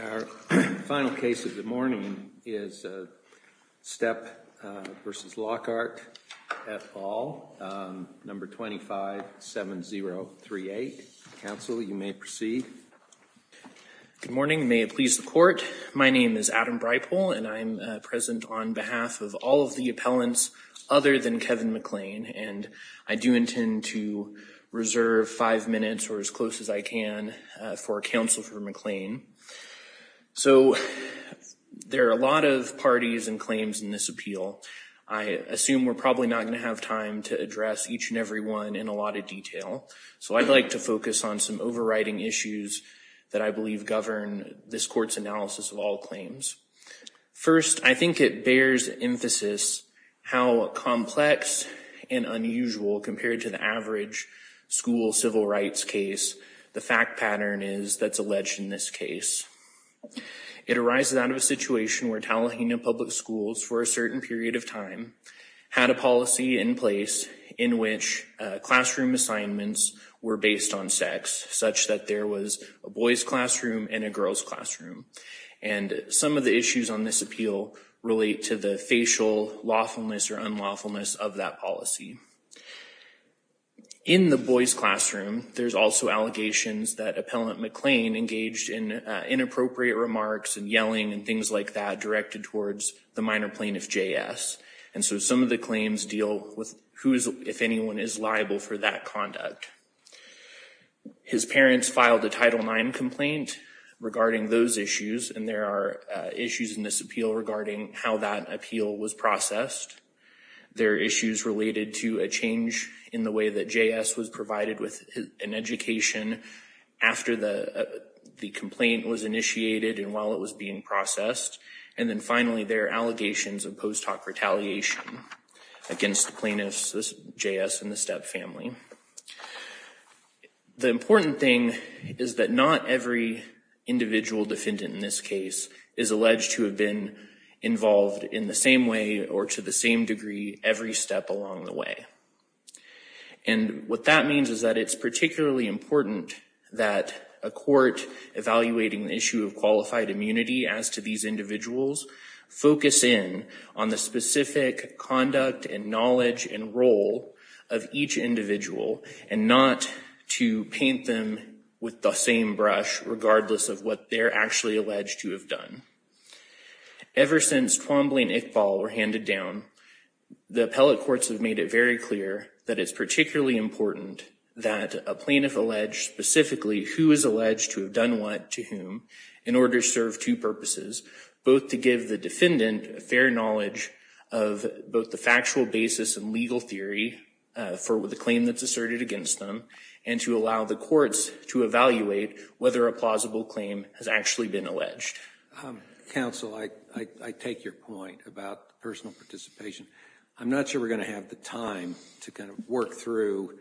Our final case of the morning is Stepp v. Lockhart, et al., No. 257038. Counsel, you may proceed. Good morning. May it please the Court? My name is Adam Breipel, and I am present on behalf of all of the appellants other than Kevin McLean. And I do intend to reserve five minutes, or as close as I can, for Counsel for McLean. So there are a lot of parties and claims in this appeal. I assume we're probably not going to have time to address each and every one in a lot of detail. So I'd like to focus on some overriding issues that I believe govern this Court's analysis of all claims. First, I think it bears emphasis how complex and unusual, compared to the average school civil rights case, the fact pattern is that's alleged in this case. It arises out of a situation where Tallahanna Public Schools, for a certain period of time, had a policy in place in which classroom assignments were based on sex, such that there was a boys' classroom and a girls' classroom. And some of the issues on this appeal relate to the facial lawfulness or unlawfulness of that policy. In the boys' classroom, there's also allegations that Appellant McLean engaged in inappropriate remarks and yelling and things like that directed towards the minor plaintiff, J.S. And so some of the claims deal with who, if anyone, is liable for that conduct. His parents filed a Title IX complaint regarding those issues, and there are issues in this appeal regarding how that appeal was processed. There are issues related to a change in the way that J.S. was provided with an education after the complaint was initiated and while it was being processed. And then finally, there are allegations of post hoc retaliation against the plaintiffs, J.S. and the Stepp family. The important thing is that not every individual defendant in this case is alleged to have been involved in the same way or to the same degree every step along the way. And what that means is that it's particularly important that a court evaluating the issue of qualified immunity as to these individuals focus in on the specific conduct and knowledge and role of each individual and not to paint them with the same brush regardless of what they're actually alleged to have done. Ever since Twombly and Iqbal were handed down, the appellate courts have made it very clear that it's particularly important that a plaintiff allege specifically who is alleged to have done what to whom in order to serve two purposes, both to give the defendant a fair knowledge of both the factual basis and legal theory for the claim that's asserted against them and to allow the courts to evaluate whether a plausible claim has actually been alleged. Counsel, I take your point about personal participation. I'm not sure we're going to have the time to kind of work through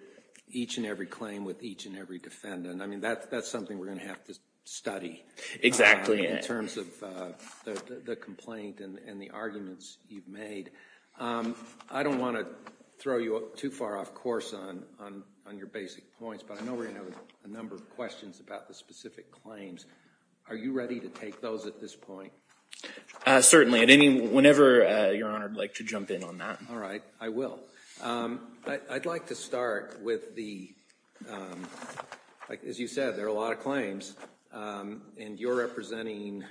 each and every claim with each and every defendant. I mean, that's something we're going to have to study. In terms of the complaint and the arguments you've made. I don't want to throw you too far off course on your basic points, but I know we're going to have a number of questions about the specific claims. Are you ready to take those at this point? Certainly. Whenever you're honored, I'd like to jump in on that. All right. I will. I'd like to start with the, as you said, there are a lot of claims and you're representing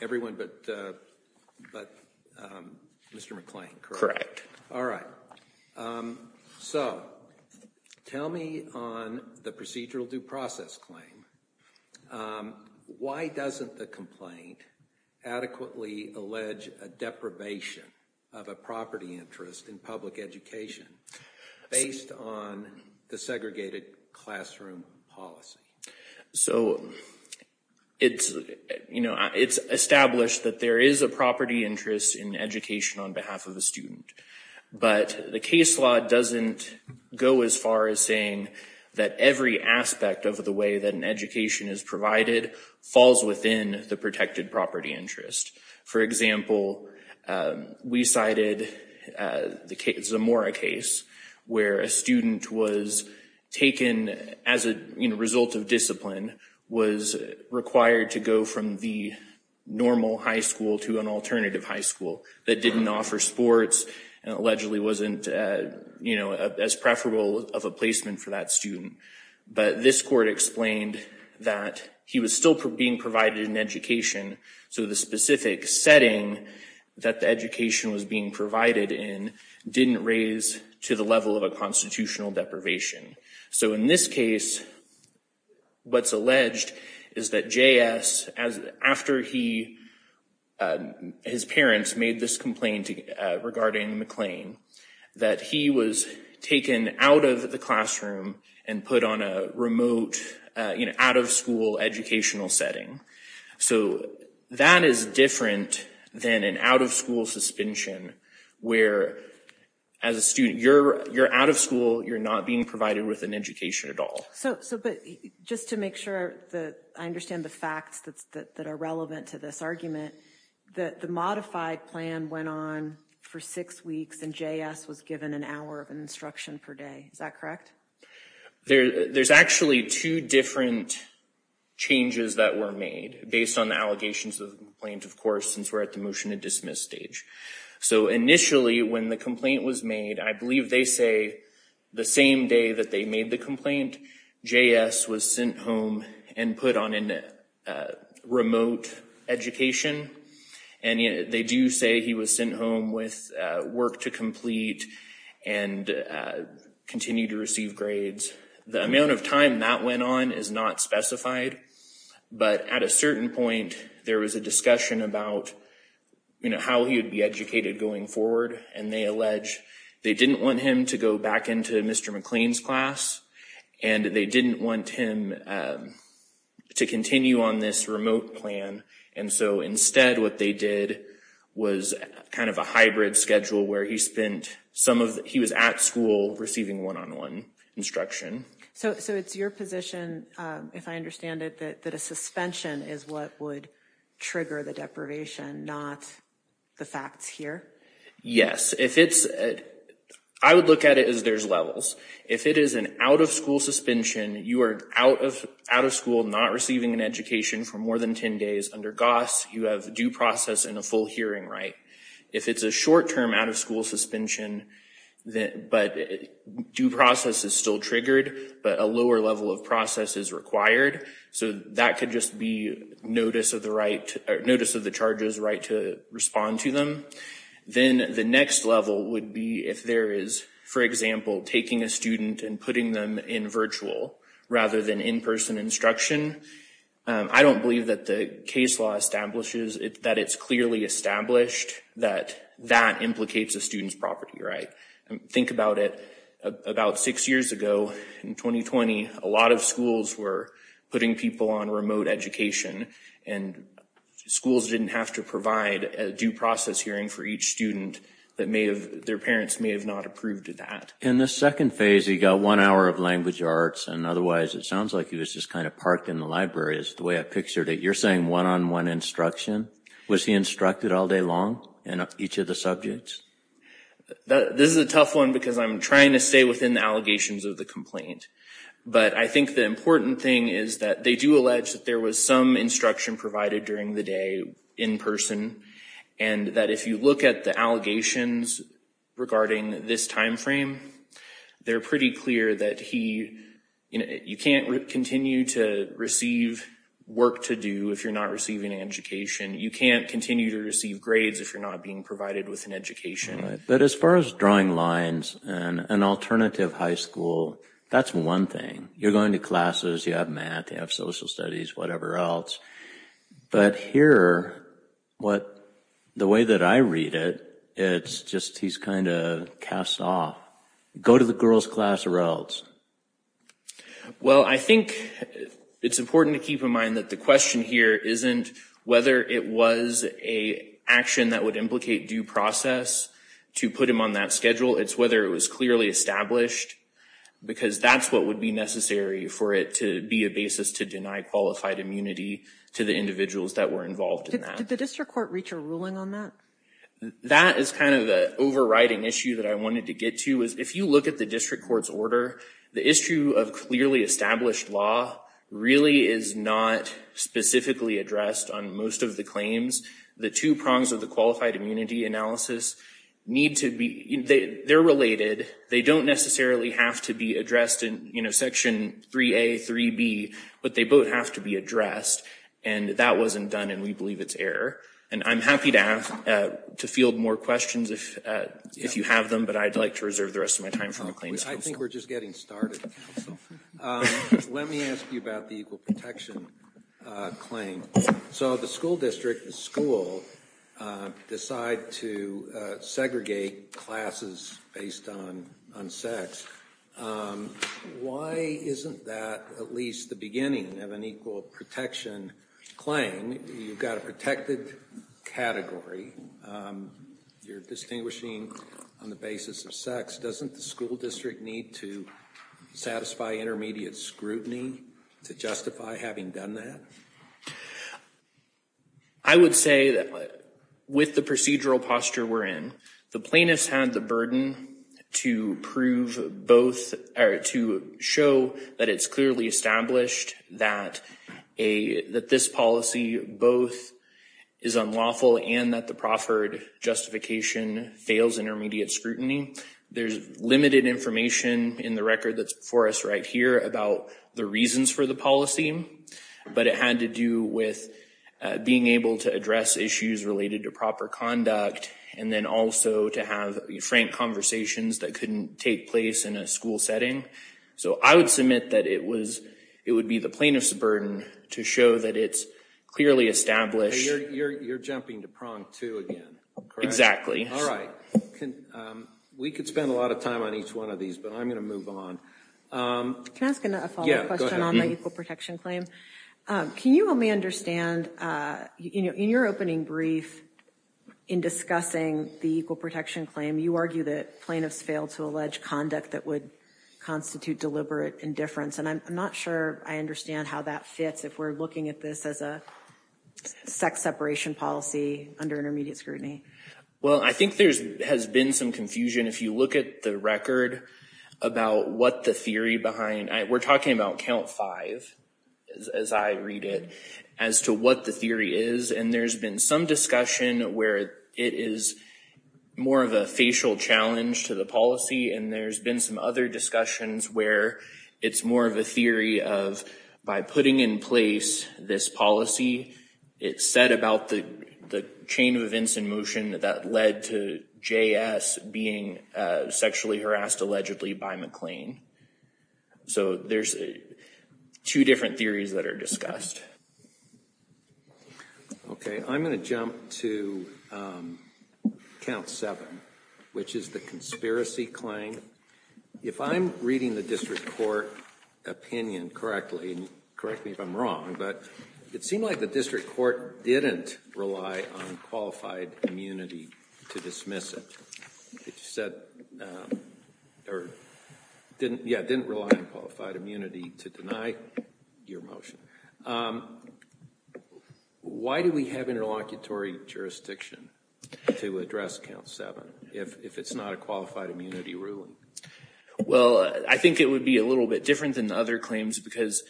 everyone but Mr. McClain, correct? All right. So tell me on the procedural due process claim. Why doesn't the complaint adequately allege a deprivation of a property interest in public education based on the segregated classroom policy? So it's, you know, it's established that there is a property interest in education on behalf of a student. But the case law doesn't go as far as saying that every aspect of the way that an education is provided falls within the protected property interest. For example, we cited the Zamora case where a student was taken as a result of discipline, was required to go from the normal high school to an alternative high school that didn't offer sports and allegedly wasn't, you know, as preferable of a placement for that student. But this court explained that he was still being provided an education. So the specific setting that the education was being provided in didn't raise to the level of a constitutional deprivation. So in this case, what's alleged is that J.S., after he, his parents made this complaint regarding McClain, that he was taken out of the classroom and put on a remote, you know, out of school educational setting. So that is different than an out of school suspension where, as a student, you're out of school, you're not being provided with an education at all. So, but just to make sure that I understand the facts that are relevant to this argument, that the modified plan went on for six weeks and J.S. was given an hour of instruction per day. Is that correct? There's actually two different changes that were made based on the allegations of the complaint, of course, since we're at the motion to dismiss stage. So initially, when the complaint was made, I believe they say the same day that they made the complaint, J.S. was sent home and put on a remote education. And they do say he was sent home with work to complete and continue to receive grades. The amount of time that went on is not specified. But at a certain point, there was a discussion about, you know, how he would be educated going forward. And they allege they didn't want him to go back into Mr. McClain's class and they didn't want him to continue on this remote plan. And so instead, what they did was kind of a hybrid schedule where he spent some of he was at school receiving one on one instruction. So it's your position, if I understand it, that a suspension is what would trigger the deprivation, not the facts here. Yes, if it's I would look at it as there's levels. If it is an out of school suspension, you are out of out of school, not receiving an education for more than 10 days under Goss. You have due process and a full hearing. Right. If it's a short term out of school suspension, but due process is still triggered, but a lower level of process is required. So that could just be notice of the right or notice of the charges right to respond to them. Then the next level would be if there is, for example, taking a student and putting them in virtual rather than in-person instruction. I don't believe that the case law establishes that it's clearly established that that implicates a student's property. Right. Think about it. About six years ago in 2020, a lot of schools were putting people on remote education and schools didn't have to provide a due process hearing for each student that may have their parents may have not approved of that. In the second phase, he got one hour of language arts and otherwise it sounds like he was just kind of parked in the library is the way I pictured it. You're saying one on one instruction. Was he instructed all day long in each of the subjects? This is a tough one because I'm trying to stay within the allegations of the complaint. But I think the important thing is that they do allege that there was some instruction provided during the day in person. And that if you look at the allegations regarding this time frame, they're pretty clear that he you can't continue to receive work to do. If you're not receiving an education, you can't continue to receive grades if you're not being provided with an education. But as far as drawing lines and an alternative high school, that's one thing you're going to classes, you have math, you have social studies, whatever else. But here, what the way that I read it, it's just he's kind of cast off. Go to the girls class or else. Well, I think it's important to keep in mind that the question here isn't whether it was a action that would implicate due process to put him on that schedule. It's whether it was clearly established because that's what would be necessary for it to be a basis to deny qualified immunity to the individuals that were involved in that. Did the district court reach a ruling on that? That is kind of the overriding issue that I wanted to get to is if you look at the district court's order, the issue of clearly established law really is not specifically addressed on most of the claims. The two prongs of the qualified immunity analysis need to be, they're related. They don't necessarily have to be addressed in Section 3A, 3B, but they both have to be addressed. And that wasn't done and we believe it's error. And I'm happy to ask, to field more questions if you have them, but I'd like to reserve the rest of my time. I think we're just getting started. Let me ask you about the equal protection claim. So the school district, the school decide to segregate classes based on sex. Why isn't that at least the beginning of an equal protection claim? You've got a protected category. You're distinguishing on the basis of sex. Doesn't the school district need to satisfy intermediate scrutiny to justify having done that? I would say that with the procedural posture we're in, the plaintiffs had the burden to prove both, or to show that it's clearly established that this policy both is unlawful and that the proffered justification fails intermediate scrutiny. There's limited information in the record that's before us right here about the reasons for the policy, but it had to do with being able to address issues related to proper conduct and then also to have frank conversations that couldn't take place in a school setting. So I would submit that it would be the plaintiffs' burden to show that it's clearly established. You're jumping to prong two again. Exactly. All right. We could spend a lot of time on each one of these, but I'm going to move on. Can I ask a follow-up question on the equal protection claim? Can you help me understand, in your opening brief in discussing the equal protection claim, you argue that plaintiffs failed to allege conduct that would constitute deliberate indifference. And I'm not sure I understand how that fits if we're looking at this as a sex separation policy under intermediate scrutiny. Well, I think there has been some confusion. If you look at the record about what the theory behind, we're talking about count five, as I read it, as to what the theory is. And there's been some discussion where it is more of a facial challenge to the policy. And there's been some other discussions where it's more of a theory of by putting in place this policy, it's said about the chain of events in motion that led to J.S. being sexually harassed allegedly by McLean. So there's two different theories that are discussed. Okay, I'm going to jump to count seven, which is the conspiracy claim. If I'm reading the district court opinion correctly, correct me if I'm wrong, but it seemed like the district court didn't rely on qualified immunity to dismiss it. It said, didn't rely on qualified immunity to deny your motion. Why do we have interlocutory jurisdiction to address count seven if it's not a qualified immunity ruling? Well, I think it would be a little bit different than other claims because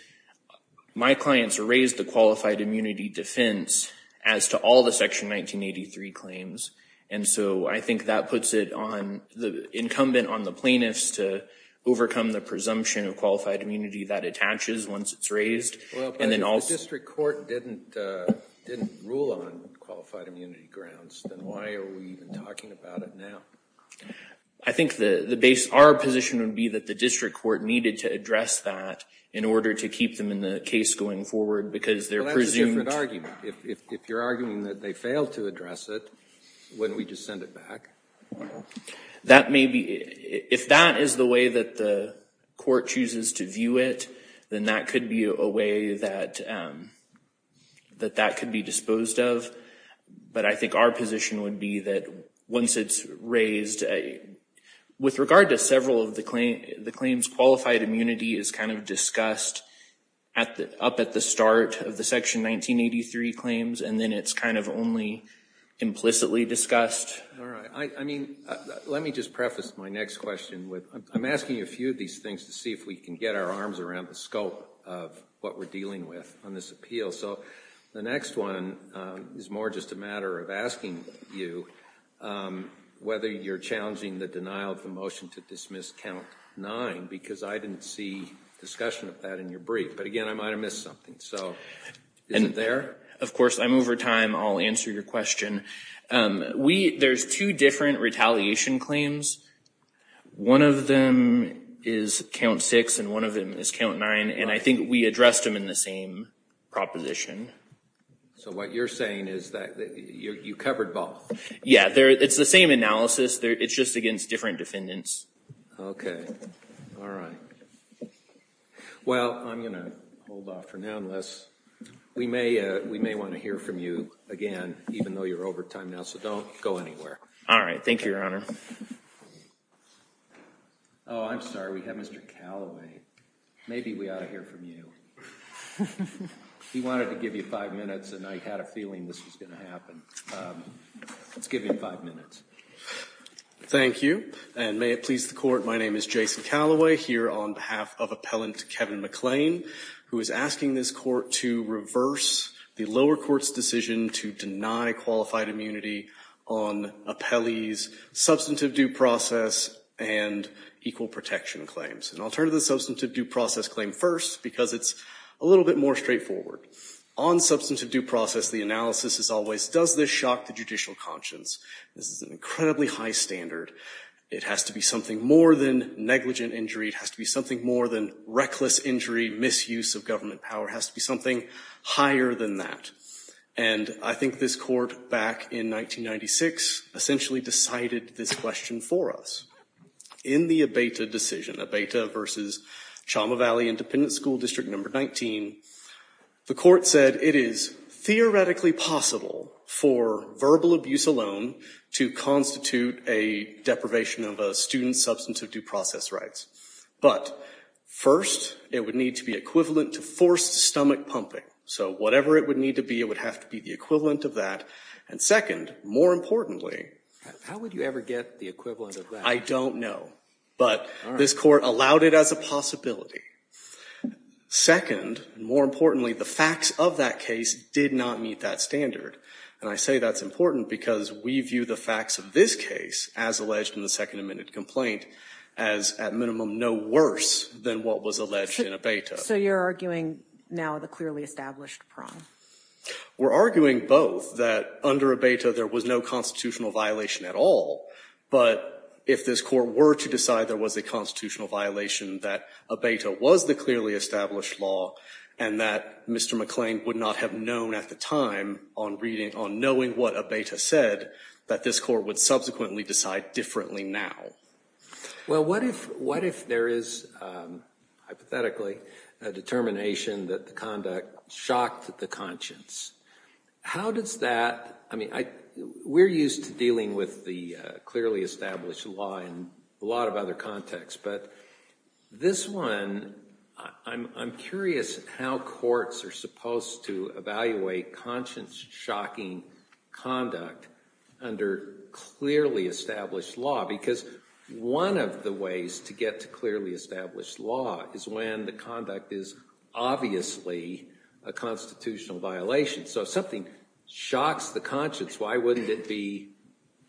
my clients raised the qualified immunity defense as to all the Section 1983 claims. And so I think that puts it on the incumbent on the plaintiffs to overcome the presumption of qualified immunity that attaches once it's raised. Well, but if the district court didn't rule on qualified immunity grounds, then why are we even talking about it now? I think our position would be that the district court needed to address that in order to keep them in the case going forward because they're presumed... If you're arguing that they failed to address it, wouldn't we just send it back? That may be, if that is the way that the court chooses to view it, then that could be a way that that could be disposed of. But I think our position would be that once it's raised, with regard to several of the claims, the claims qualified immunity is kind of discussed up at the start of the Section 1983 claims. And then it's kind of only implicitly discussed. All right. I mean, let me just preface my next question. I'm asking you a few of these things to see if we can get our arms around the scope of what we're dealing with on this appeal. So the next one is more just a matter of asking you whether you're challenging the denial of the motion to dismiss count nine, because I didn't see discussion of that in your brief. But again, I might have missed something. So is it there? Of course, I'm over time. I'll answer your question. There's two different retaliation claims. One of them is count six, and one of them is count nine. And I think we addressed them in the same proposition. So what you're saying is that you covered both? Yeah, it's the same analysis. It's just against different defendants. OK. All right. Well, I'm going to hold off for now, unless we may want to hear from you again, even though you're over time now. So don't go anywhere. All right. Thank you, Your Honor. Oh, I'm sorry. We have Mr. Callaway. Maybe we ought to hear from you. He wanted to give you five minutes, and I had a feeling this was going to happen. Let's give him five minutes. Thank you. And may it please the Court, my name is Jason Callaway, here on behalf of Appellant Kevin McLean, who is asking this Court to reverse the lower court's decision to deny qualified immunity on Appellee's substantive due process and equal protection claims. And I'll turn to the substantive due process claim first, because it's a little bit more straightforward. On substantive due process, the analysis is always, does this shock the judicial conscience? This is an incredibly high standard. It has to be something more than negligent injury. It has to be something more than reckless injury, misuse of government power. It has to be something higher than that. And I think this Court, back in 1996, essentially decided this question for us. In the Abeyta decision, Abeyta v. Chama Valley Independent School District No. 19, the Court said it is theoretically possible for verbal abuse alone to constitute a deprivation of a student's substantive due process rights. But first, it would need to be equivalent to forced stomach pumping. So whatever it would need to be, it would have to be the equivalent of that. And second, more importantly— How would you ever get the equivalent of that? I don't know. But this Court allowed it as a possibility. Second, and more importantly, the facts of that case did not meet that standard. And I say that's important because we view the facts of this case, as alleged in the Second Amendment complaint, as, at minimum, no worse than what was alleged in Abeyta. So you're arguing now the clearly established prong? We're arguing both, that under Abeyta there was no constitutional violation at all. But if this Court were to decide there was a constitutional violation, that Abeyta was the clearly established law, and that Mr. McClain would not have known at the time, on knowing what Abeyta said, that this Court would subsequently decide differently now. Well, what if there is, hypothetically, a determination that the conduct shocked the conscience? How does that—I mean, we're used to dealing with the clearly established law in a lot of other contexts. But this one, I'm curious how courts are supposed to evaluate conscience-shocking conduct under clearly established law. Because one of the ways to get to clearly established law is when the conduct is obviously a constitutional violation. So if something shocks the conscience, why wouldn't it be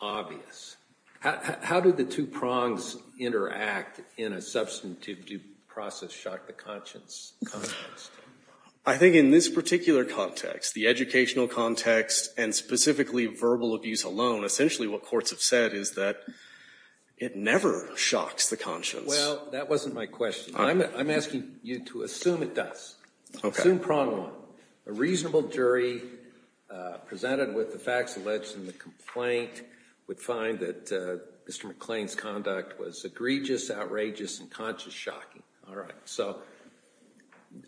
obvious? How do the two prongs interact in a substantive due process shock the conscience context? I think in this particular context, the educational context, and specifically verbal abuse alone, essentially what courts have said is that it never shocks the conscience. Well, that wasn't my question. I'm asking you to assume it does. Okay. Assume prong one. A reasonable jury, presented with the facts alleged in the complaint, would find that Mr. McClain's conduct was egregious, outrageous, and conscience-shocking. All right. So,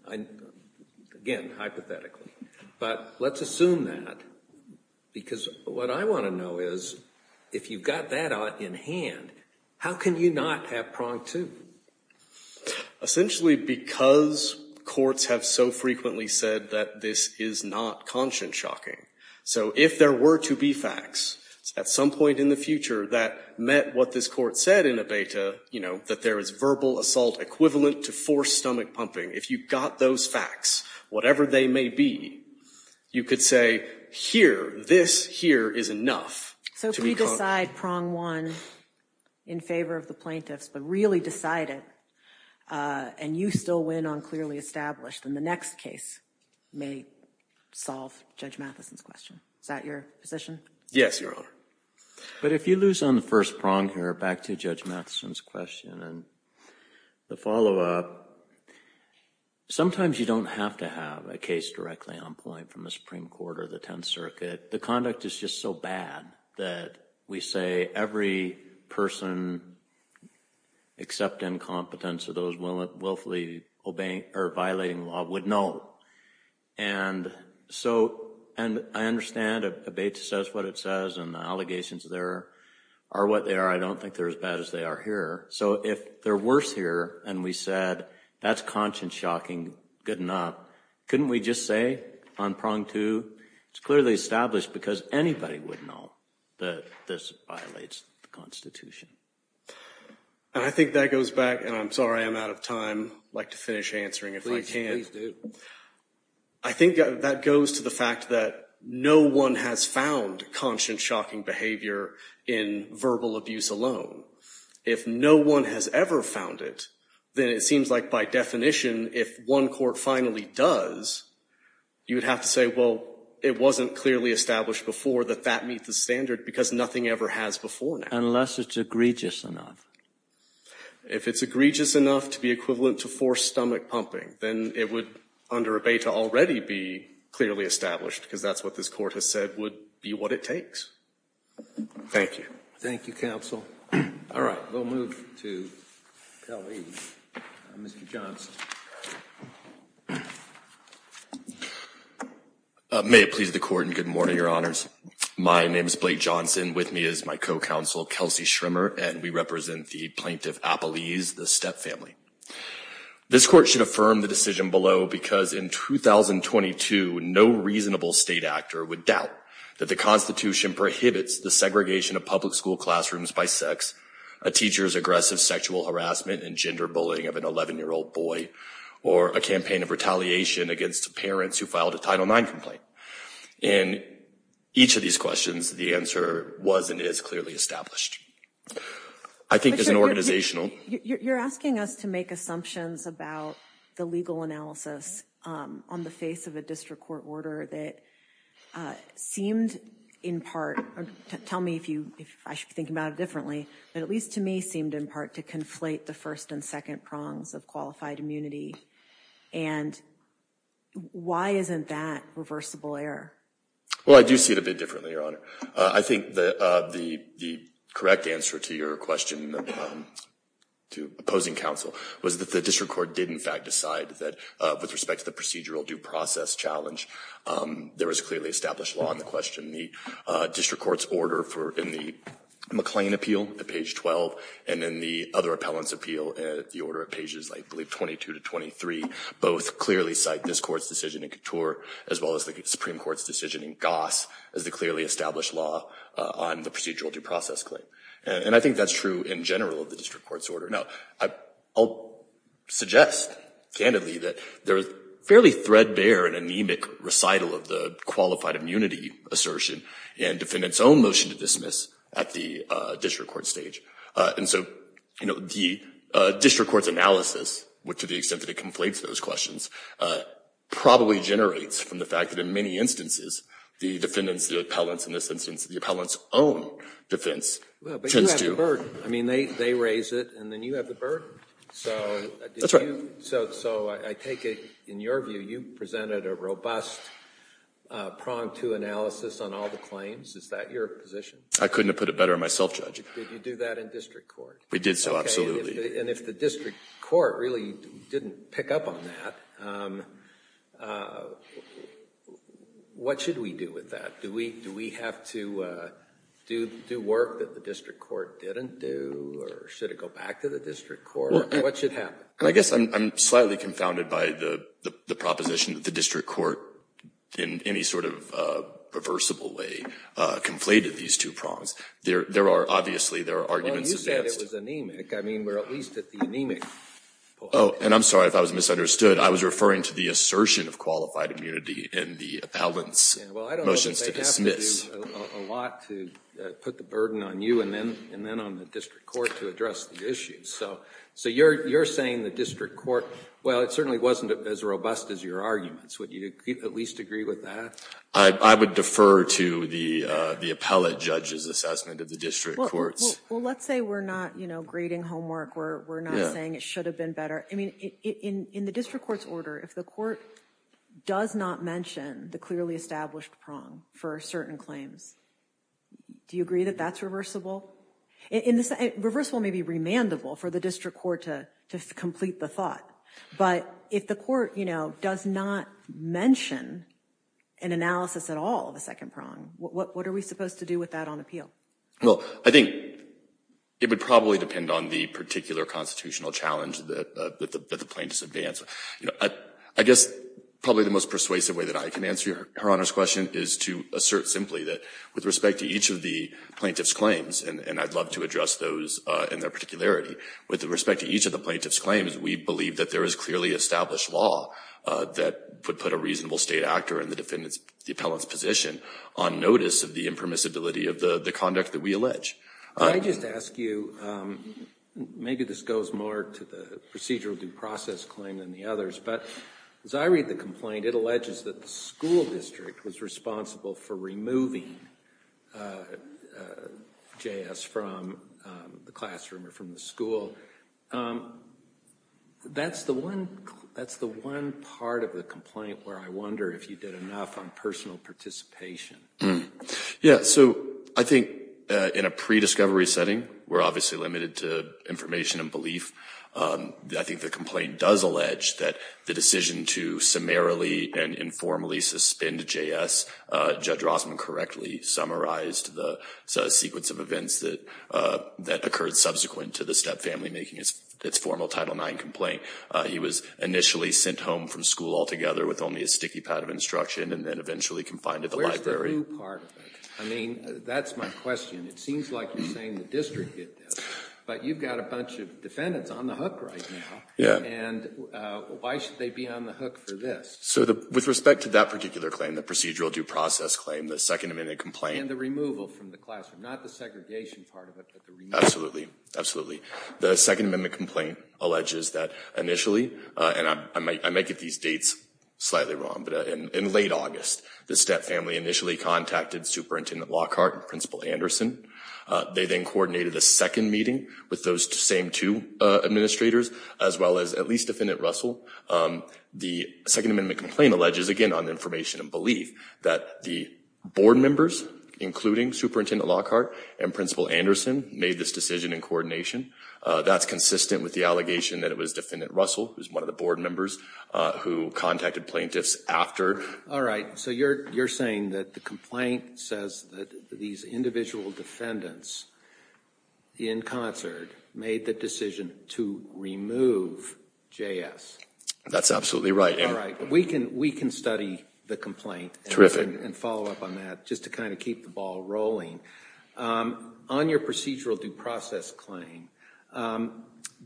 again, hypothetically. But let's assume that. Because what I want to know is, if you've got that in hand, how can you not have prong two? Essentially because courts have so frequently said that this is not conscience-shocking. So if there were to be facts at some point in the future that met what this court said in a beta, you know, that there is verbal assault equivalent to forced stomach pumping, if you've got those facts, whatever they may be, you could say, here, this here is enough. So if we decide prong one in favor of the plaintiffs, but really decide it, and you still win on clearly established, then the next case may solve Judge Matheson's question. Is that your position? Yes, Your Honor. But if you lose on the first prong here, back to Judge Matheson's question and the follow-up, sometimes you don't have to have a case directly on point from the Supreme Court or the Tenth Circuit. The conduct is just so bad that we say every person except incompetence of those willfully violating the law would know. And so I understand if a beta says what it says and the allegations there are what they are. I don't think they're as bad as they are here. So if they're worse here and we said that's conscience-shocking, good enough, couldn't we just say on prong two it's clearly established because anybody would know that this violates the Constitution? And I think that goes back, and I'm sorry I'm out of time. I'd like to finish answering if I can. I think that goes to the fact that no one has found conscience-shocking behavior in verbal abuse alone. If no one has ever found it, then it seems like by definition if one court finally does, you would have to say, well, it wasn't clearly established before that that meets the standard because nothing ever has before now. Unless it's egregious enough. If it's egregious enough to be equivalent to forced stomach pumping, then it would under a beta already be clearly established because that's what this court has said would be what it takes. Thank you. Thank you, Counsel. All right. We'll move to Pelley, Mr. Johnson. May it please the Court and good morning, Your Honors. My name is Blake Johnson. With me is my co-counsel, Kelsey Schrimmer, and we represent the Plaintiff Appelese, the Steppe family. This court should affirm the decision below because in 2022, no reasonable state actor would doubt that the Constitution prohibits the segregation of public school classrooms by sex, a teacher's aggressive sexual harassment and gender bullying of an 11-year-old boy, or a campaign of retaliation against parents who filed a Title IX complaint. In each of these questions, the answer was and is clearly established. I think as an organizational... You're asking us to make assumptions about the legal analysis on the face of a district court order that seemed in part, tell me if I should be thinking about it differently, but at least to me seemed in part to conflate the first and second prongs of qualified immunity. And why isn't that reversible error? Well, I do see it a bit differently, Your Honor. I think the correct answer to your question, to opposing counsel, was that the district court did in fact decide that with respect to the procedural due process challenge, there was clearly established law in the question. The district court's order in the McLean appeal at page 12, and then the other appellant's appeal at the order of pages, I believe, 22 to 23, both clearly cite this court's decision in Couture as well as the Supreme Court's decision in Goss as the clearly established law on the procedural due process claim. And I think that's true in general of the district court's order. Now, I'll suggest candidly that there is fairly threadbare and anemic recital of the qualified immunity assertion and defendant's own motion to dismiss at the district court stage. And so, you know, the district court's analysis, to the extent that it conflates those questions, probably generates from the fact that in many instances, the defendant's, the appellant's, in this instance, the appellant's own defense tends to Well, but you have the burden. I mean, they raise it and then you have the burden. That's right. So I take it, in your view, you presented a robust prong to analysis on all the claims. Is that your position? I couldn't have put it better myself, Judge. Did you do that in district court? We did so, absolutely. And if the district court really didn't pick up on that, what should we do with that? Do we have to do work that the district court didn't do? Or should it go back to the district court? What should happen? I guess I'm slightly confounded by the proposition that the district court, in any sort of reversible way, conflated these two prongs. There are, obviously, there are arguments advanced. Well, you said it was anemic. I mean, we're at least at the anemic point. Oh, and I'm sorry if I was misunderstood. I was referring to the assertion of qualified immunity in the appellant's motions to dismiss. Well, I don't think they have to do a lot to put the burden on you and then on the district court to address the issue. So you're saying the district court, well, it certainly wasn't as robust as your arguments. Would you at least agree with that? I would defer to the appellate judge's assessment of the district court's. Well, let's say we're not grading homework. We're not saying it should have been better. I mean, in the district court's order, if the court does not mention the clearly established prong for certain claims, do you agree that that's reversible? Reversible may be remandable for the district court to complete the thought, but if the court, you know, does not mention an analysis at all of the second prong, what are we supposed to do with that on appeal? Well, I think it would probably depend on the particular constitutional challenge that the plaintiffs advance. You know, I guess probably the most persuasive way that I can answer Your Honor's question is to assert simply that with respect to each of the plaintiff's claims, and I'd love to address those in their particularity, with respect to each of the plaintiff's claims, we believe that there is clearly established law that would put a reasonable state actor in the defendant's position on notice of the impermissibility of the conduct that we allege. I just ask you, maybe this goes more to the procedural due process claim than the others, but as I read the complaint, it alleges that the school district was responsible for removing J.S. from the classroom or from the school. That's the one part of the complaint where I wonder if you did enough on personal participation. Yeah, so I think in a prediscovery setting, we're obviously limited to information and belief. I think the complaint does allege that the decision to summarily and informally suspend J.S., Judge Rossman correctly summarized the sequence of events that occurred subsequent to the Step family making its formal Title IX complaint. He was initially sent home from school altogether with only a sticky pad of instruction and then eventually confined to the library. Where's the new part of it? I mean, that's my question. It seems like you're saying the district did this. But you've got a bunch of defendants on the hook right now. Yeah. And why should they be on the hook for this? So with respect to that particular claim, the procedural due process claim, the Second Amendment complaint. And the removal from the classroom, not the segregation part of it, but the removal. Absolutely, absolutely. The Second Amendment complaint alleges that initially, and I might get these dates slightly wrong, but in late August, the Step family initially contacted Superintendent Lockhart and Principal Anderson. They then coordinated a second meeting with those same two administrators, as well as at least Defendant Russell. The Second Amendment complaint alleges, again, on information and belief, that the board members, including Superintendent Lockhart and Principal Anderson, made this decision in coordination. That's consistent with the allegation that it was Defendant Russell, who's one of the board members, who contacted plaintiffs after. All right. So you're saying that the complaint says that these individual defendants in concert made the decision to remove JS. That's absolutely right. All right. We can study the complaint. And follow up on that, just to kind of keep the ball rolling. On your procedural due process claim,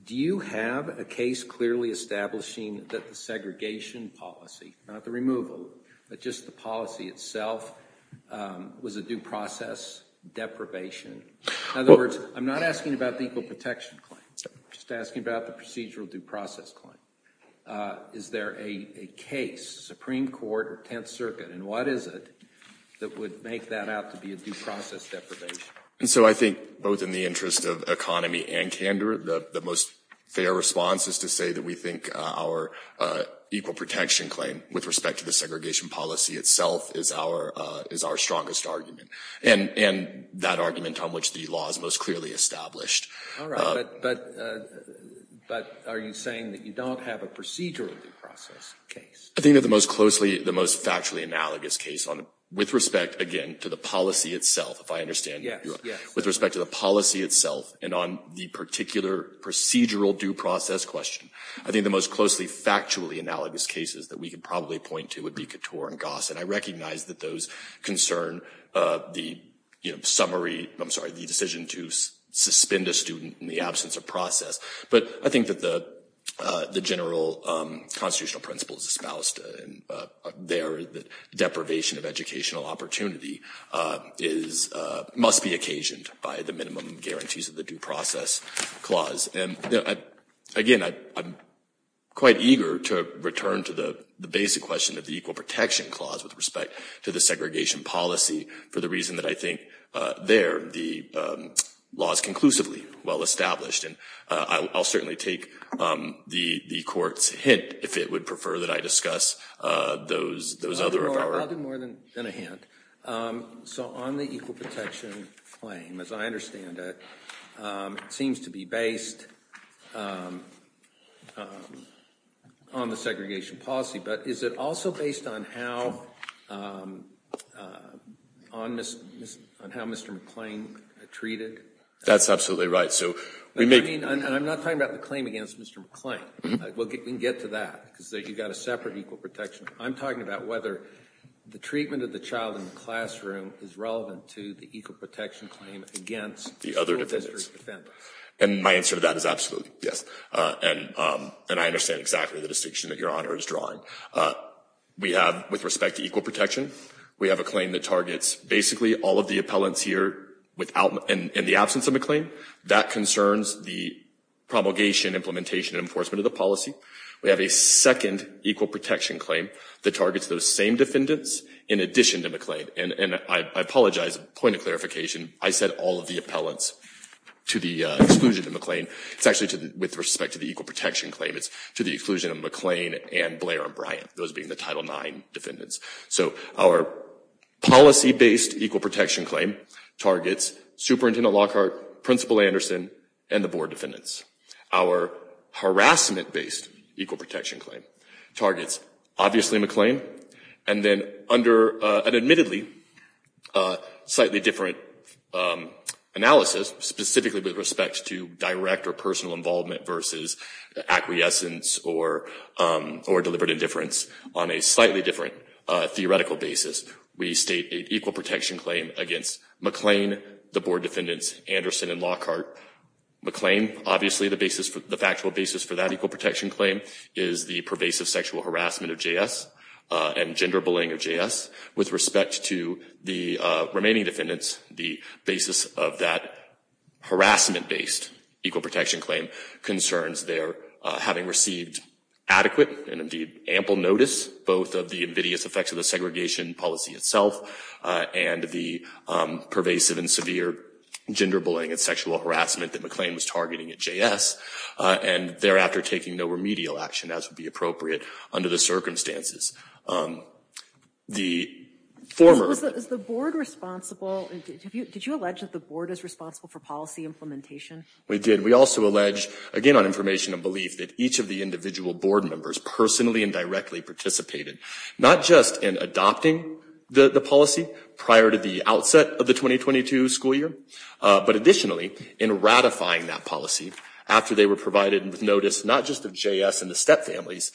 do you have a case clearly establishing that the segregation policy, not the removal, but just the policy itself, was a due process deprivation? In other words, I'm not asking about the equal protection claim. I'm just asking about the procedural due process claim. Is there a case, Supreme Court or Tenth Circuit, and what is it, that would make that out to be a due process deprivation? And so I think, both in the interest of economy and candor, the most fair response is to say that we think our equal protection claim, with respect to the segregation policy itself, is our strongest argument. And that argument on which the law is most clearly established. All right. But are you saying that you don't have a procedural due process case? I think that the most closely, the most factually analogous case, with respect, again, to the policy itself, if I understand. Yes. With respect to the policy itself, and on the particular procedural due process question, I think the most closely, factually analogous cases that we could probably point to would be Couture and Goss. And I recognize that those concern the summary, I'm sorry, the decision to suspend a student in the absence of process. But I think that the general constitutional principle is espoused there, that deprivation of educational opportunity must be occasioned by the minimum guarantees of the due process clause. And, again, I'm quite eager to return to the basic question of the equal protection clause, with respect to the segregation policy, for the reason that I think there the law is conclusively well established. And I'll certainly take the court's hint, if it would prefer that I discuss those other. I'll do more than a hint. So on the equal protection claim, as I understand it, it seems to be based on the segregation policy. But is it also based on how Mr. McClain treated? That's absolutely right. I'm not talking about the claim against Mr. McClain. We can get to that, because you've got a separate equal protection. I'm talking about whether the treatment of the child in the classroom is relevant to the equal protection claim against the other defendants. And my answer to that is absolutely, yes. And I understand exactly the distinction that Your Honor is drawing. We have, with respect to equal protection, we have a claim that targets basically all of the appellants here in the absence of McClain. That concerns the promulgation, implementation, and enforcement of the policy. We have a second equal protection claim that targets those same defendants in addition to McClain. And I apologize, a point of clarification. I said all of the appellants to the exclusion of McClain. It's actually with respect to the equal protection claim. It's to the exclusion of McClain and Blair and Bryant, those being the Title IX defendants. So our policy-based equal protection claim targets Superintendent Lockhart, Principal Anderson, and the board defendants. Our harassment-based equal protection claim targets, obviously, McClain. And then under an admittedly slightly different analysis, specifically with respect to direct or personal involvement versus acquiescence or deliberate indifference, on a slightly different theoretical basis, we state an equal protection claim against McClain, the board defendants, Anderson, and Lockhart. McClain, obviously, the factual basis for that equal protection claim is the pervasive sexual harassment of JS and gender bullying of JS. With respect to the remaining defendants, the basis of that harassment-based equal protection claim concerns their having received adequate and, indeed, ample notice, both of the invidious effects of the segregation policy itself and the pervasive and severe gender bullying and sexual harassment that McClain was targeting at JS, and thereafter taking no remedial action, as would be appropriate under the circumstances. The former- Is the board responsible? Did you allege that the board is responsible for policy implementation? We did. We also allege, again, on information and belief, that each of the individual board members personally and directly participated, not just in adopting the policy prior to the outset of the 2022 school year, but additionally, in ratifying that policy after they were provided notice, not just of JS and the stepfamilies'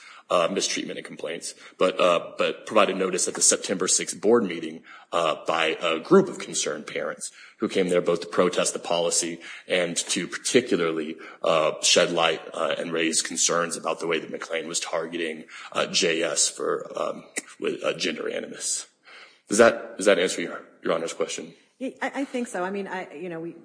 mistreatment and complaints, but provided notice at the September 6th board meeting by a group of concerned parents who came there both to protest the policy and to particularly shed light and raise concerns about the way that McClain was targeting JS for gender animus. Does that answer Your Honor's question? I think so. I mean,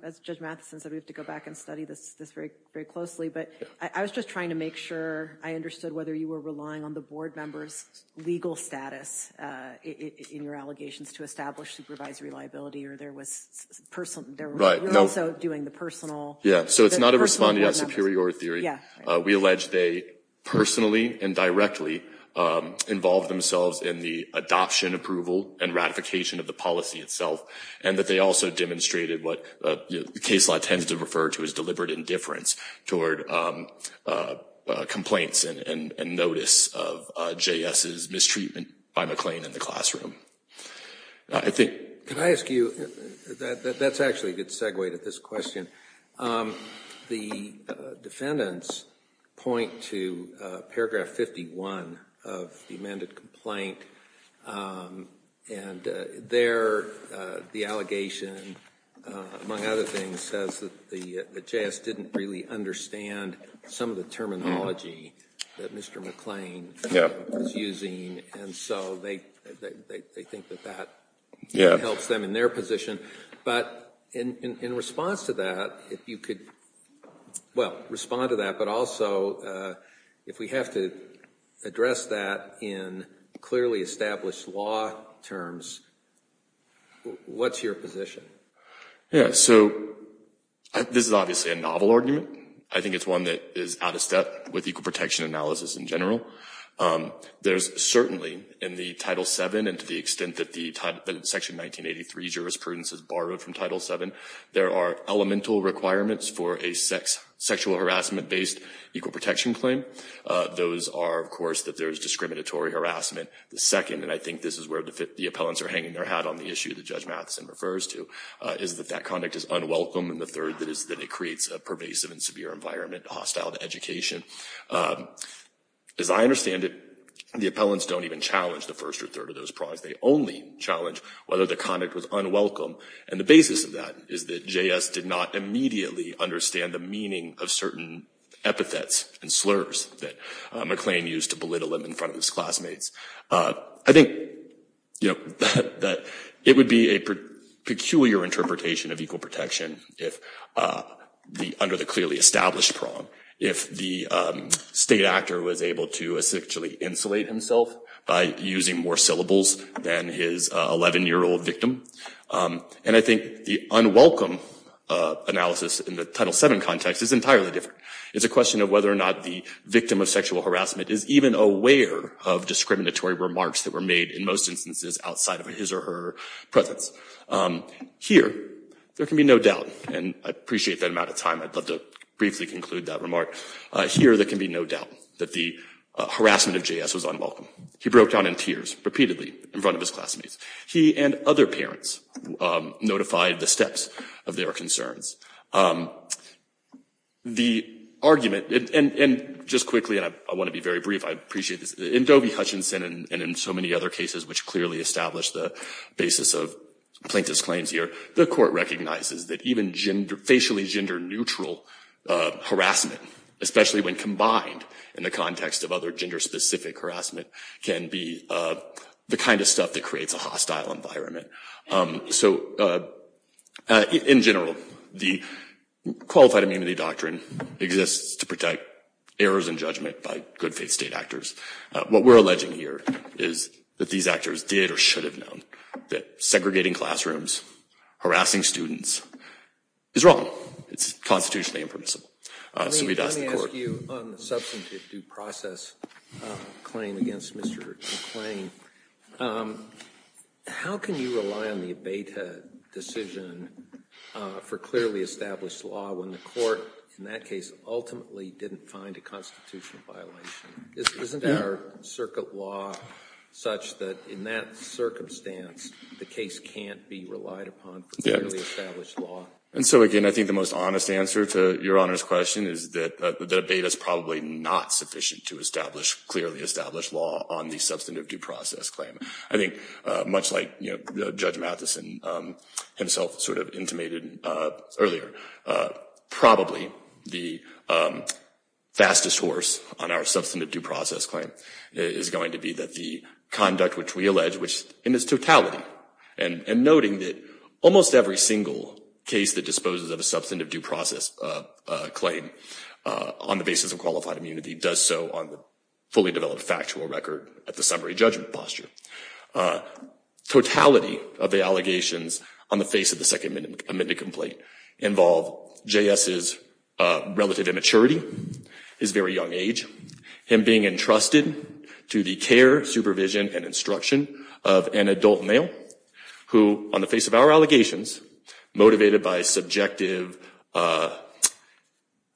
as Judge Mathison said, we have to go back and study this very closely, but I was just trying to make sure I understood whether you were relying on the board members' legal status in your allegations to establish supervisory liability, or there was personal- Right, no- You're also doing the personal- Yeah, so it's not a responding at superior theory. Yeah. We allege they personally and directly involved themselves in the adoption, approval, and ratification of the policy itself, and that they also demonstrated what the case law tends to refer to as deliberate indifference toward complaints and notice of JS's mistreatment by McClain in the classroom. I think- Can I ask you- that's actually a good segue to this question. The defendants point to paragraph 51 of the amended complaint, and there the allegation, among other things, says that JS didn't really understand some of the terminology that Mr. McClain- And so they think that that- Yeah. Helps them in their position, but in response to that, if you could, well, respond to that, but also if we have to address that in clearly established law terms, what's your position? Yeah, so this is obviously a novel argument. I think it's one that is out of step with equal protection analysis in general. There's certainly, in the Title VII and to the extent that the Section 1983 jurisprudence is borrowed from Title VII, there are elemental requirements for a sexual harassment-based equal protection claim. Those are, of course, that there is discriminatory harassment. The second, and I think this is where the appellants are hanging their hat on the issue that Judge Matheson refers to, is that that conduct is unwelcome. And the third is that it creates a pervasive and severe environment, hostile to education. As I understand it, the appellants don't even challenge the first or third of those prongs. They only challenge whether the conduct was unwelcome. And the basis of that is that J.S. did not immediately understand the meaning of certain epithets and slurs that McLean used to belittle him in front of his classmates. I think that it would be a peculiar interpretation of equal protection under the clearly established prong if the state actor was able to essentially insulate himself by using more syllables than his 11-year-old victim. And I think the unwelcome analysis in the Title VII context is entirely different. It's a question of whether or not the victim of sexual harassment is even aware of discriminatory remarks that were made in most instances outside of his or her presence. Here, there can be no doubt, and I appreciate that amount of time. I'd love to briefly conclude that remark. Here, there can be no doubt that the harassment of J.S. was unwelcome. He broke down in tears repeatedly in front of his classmates. He and other parents notified the steps of their concerns. The argument, and just quickly, and I want to be very brief, I appreciate this. In Dovey-Hutchinson and in so many other cases which clearly establish the basis of Plaintiff's claims here, the court recognizes that even facially gender-neutral harassment, especially when combined in the context of other gender-specific harassment, can be the kind of stuff that creates a hostile environment. So in general, the Qualified Immunity Doctrine exists to protect errors in judgment by good faith state actors. What we're alleging here is that these actors did or should have known that segregating classrooms, harassing students, is wrong. It's constitutionally impermissible. Let me ask you on the substantive due process claim against Mr. McClain. How can you rely on the abated decision for clearly established law when the court, in that case, ultimately didn't find a constitutional violation? Isn't our circuit law such that in that circumstance, the case can't be relied upon for clearly established law? And so again, I think the most honest answer to Your Honor's question is that abated is probably not sufficient to establish clearly established law on the substantive due process claim. I think much like Judge Matheson himself sort of intimated earlier, probably the fastest horse on our substantive due process claim is going to be that the conduct which we allege, in its totality, and noting that almost every single case that disposes of a substantive due process claim on the basis of qualified immunity does so on the fully developed factual record at the summary judgment posture. Totality of the allegations on the face of the second amended complaint involve J.S.'s relative immaturity, his very young age, him being entrusted to the care, supervision, and instruction of an adult male who, on the face of our allegations, motivated by subjective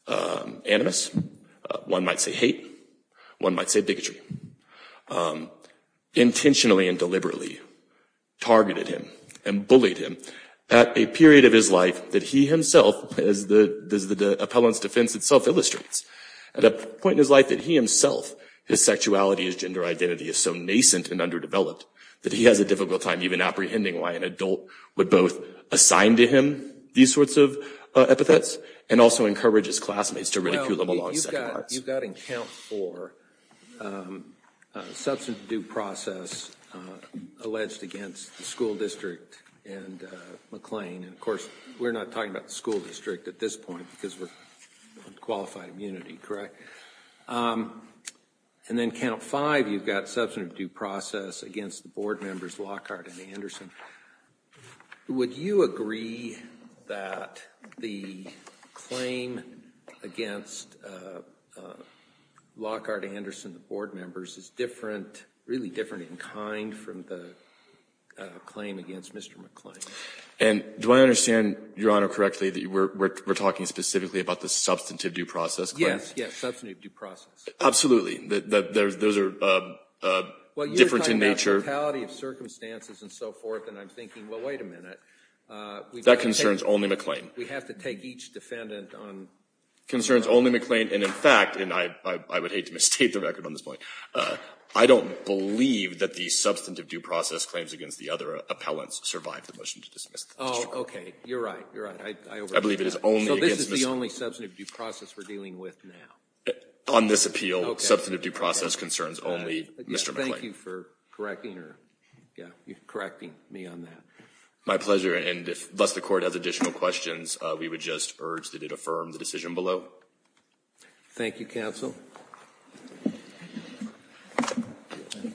animus, one might say hate, one might say bigotry, intentionally and deliberately targeted him and bullied him at a period of his life that he himself, as the appellant's defense itself illustrates, at a point in his life that he himself, his sexuality, his gender identity is so nascent and underdeveloped that he has a difficult time even apprehending why an adult would both assign to him these sorts of epithets and also encourage his classmates to ridicule him along second thoughts. Well, you've got in count for substantive due process alleged against the school district and McLean. And of course, we're not talking about the school district at this point because we're on qualified immunity, correct? And then count five, you've got substantive due process against the board members Lockhart and Anderson. Would you agree that the claim against Lockhart and Anderson, the board members, is different, really different in kind from the claim against Mr. McLean? And do I understand, Your Honor, correctly that we're talking specifically about the substantive due process claim? Yes. Substantive due process. Absolutely. Those are different in nature. Well, you're talking about the totality of circumstances and so forth, and I'm thinking, well, wait a minute. That concerns only McLean. We have to take each defendant on their own. It concerns only McLean, and in fact, and I would hate to misstate the record on this point, I don't believe that the substantive due process claims against the other defendants now once survived the motion to dismiss the district court. Oh, okay. You're right. You're right. I believe it is only against Mr. McLean. So this is the only substantive due process we're dealing with now? On this appeal, substantive due process concerns only Mr. McLean. Thank you for correcting me on that. My pleasure, and thus the court has additional questions. We would just urge that it affirm the decision below. Thank you, counsel. Thank you.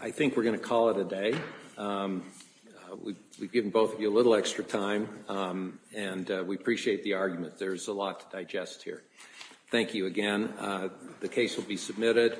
I think we're going to call it a day. We've given both of you a little extra time, and we appreciate the argument. There's a lot to digest here. Thank you again. The case will be submitted.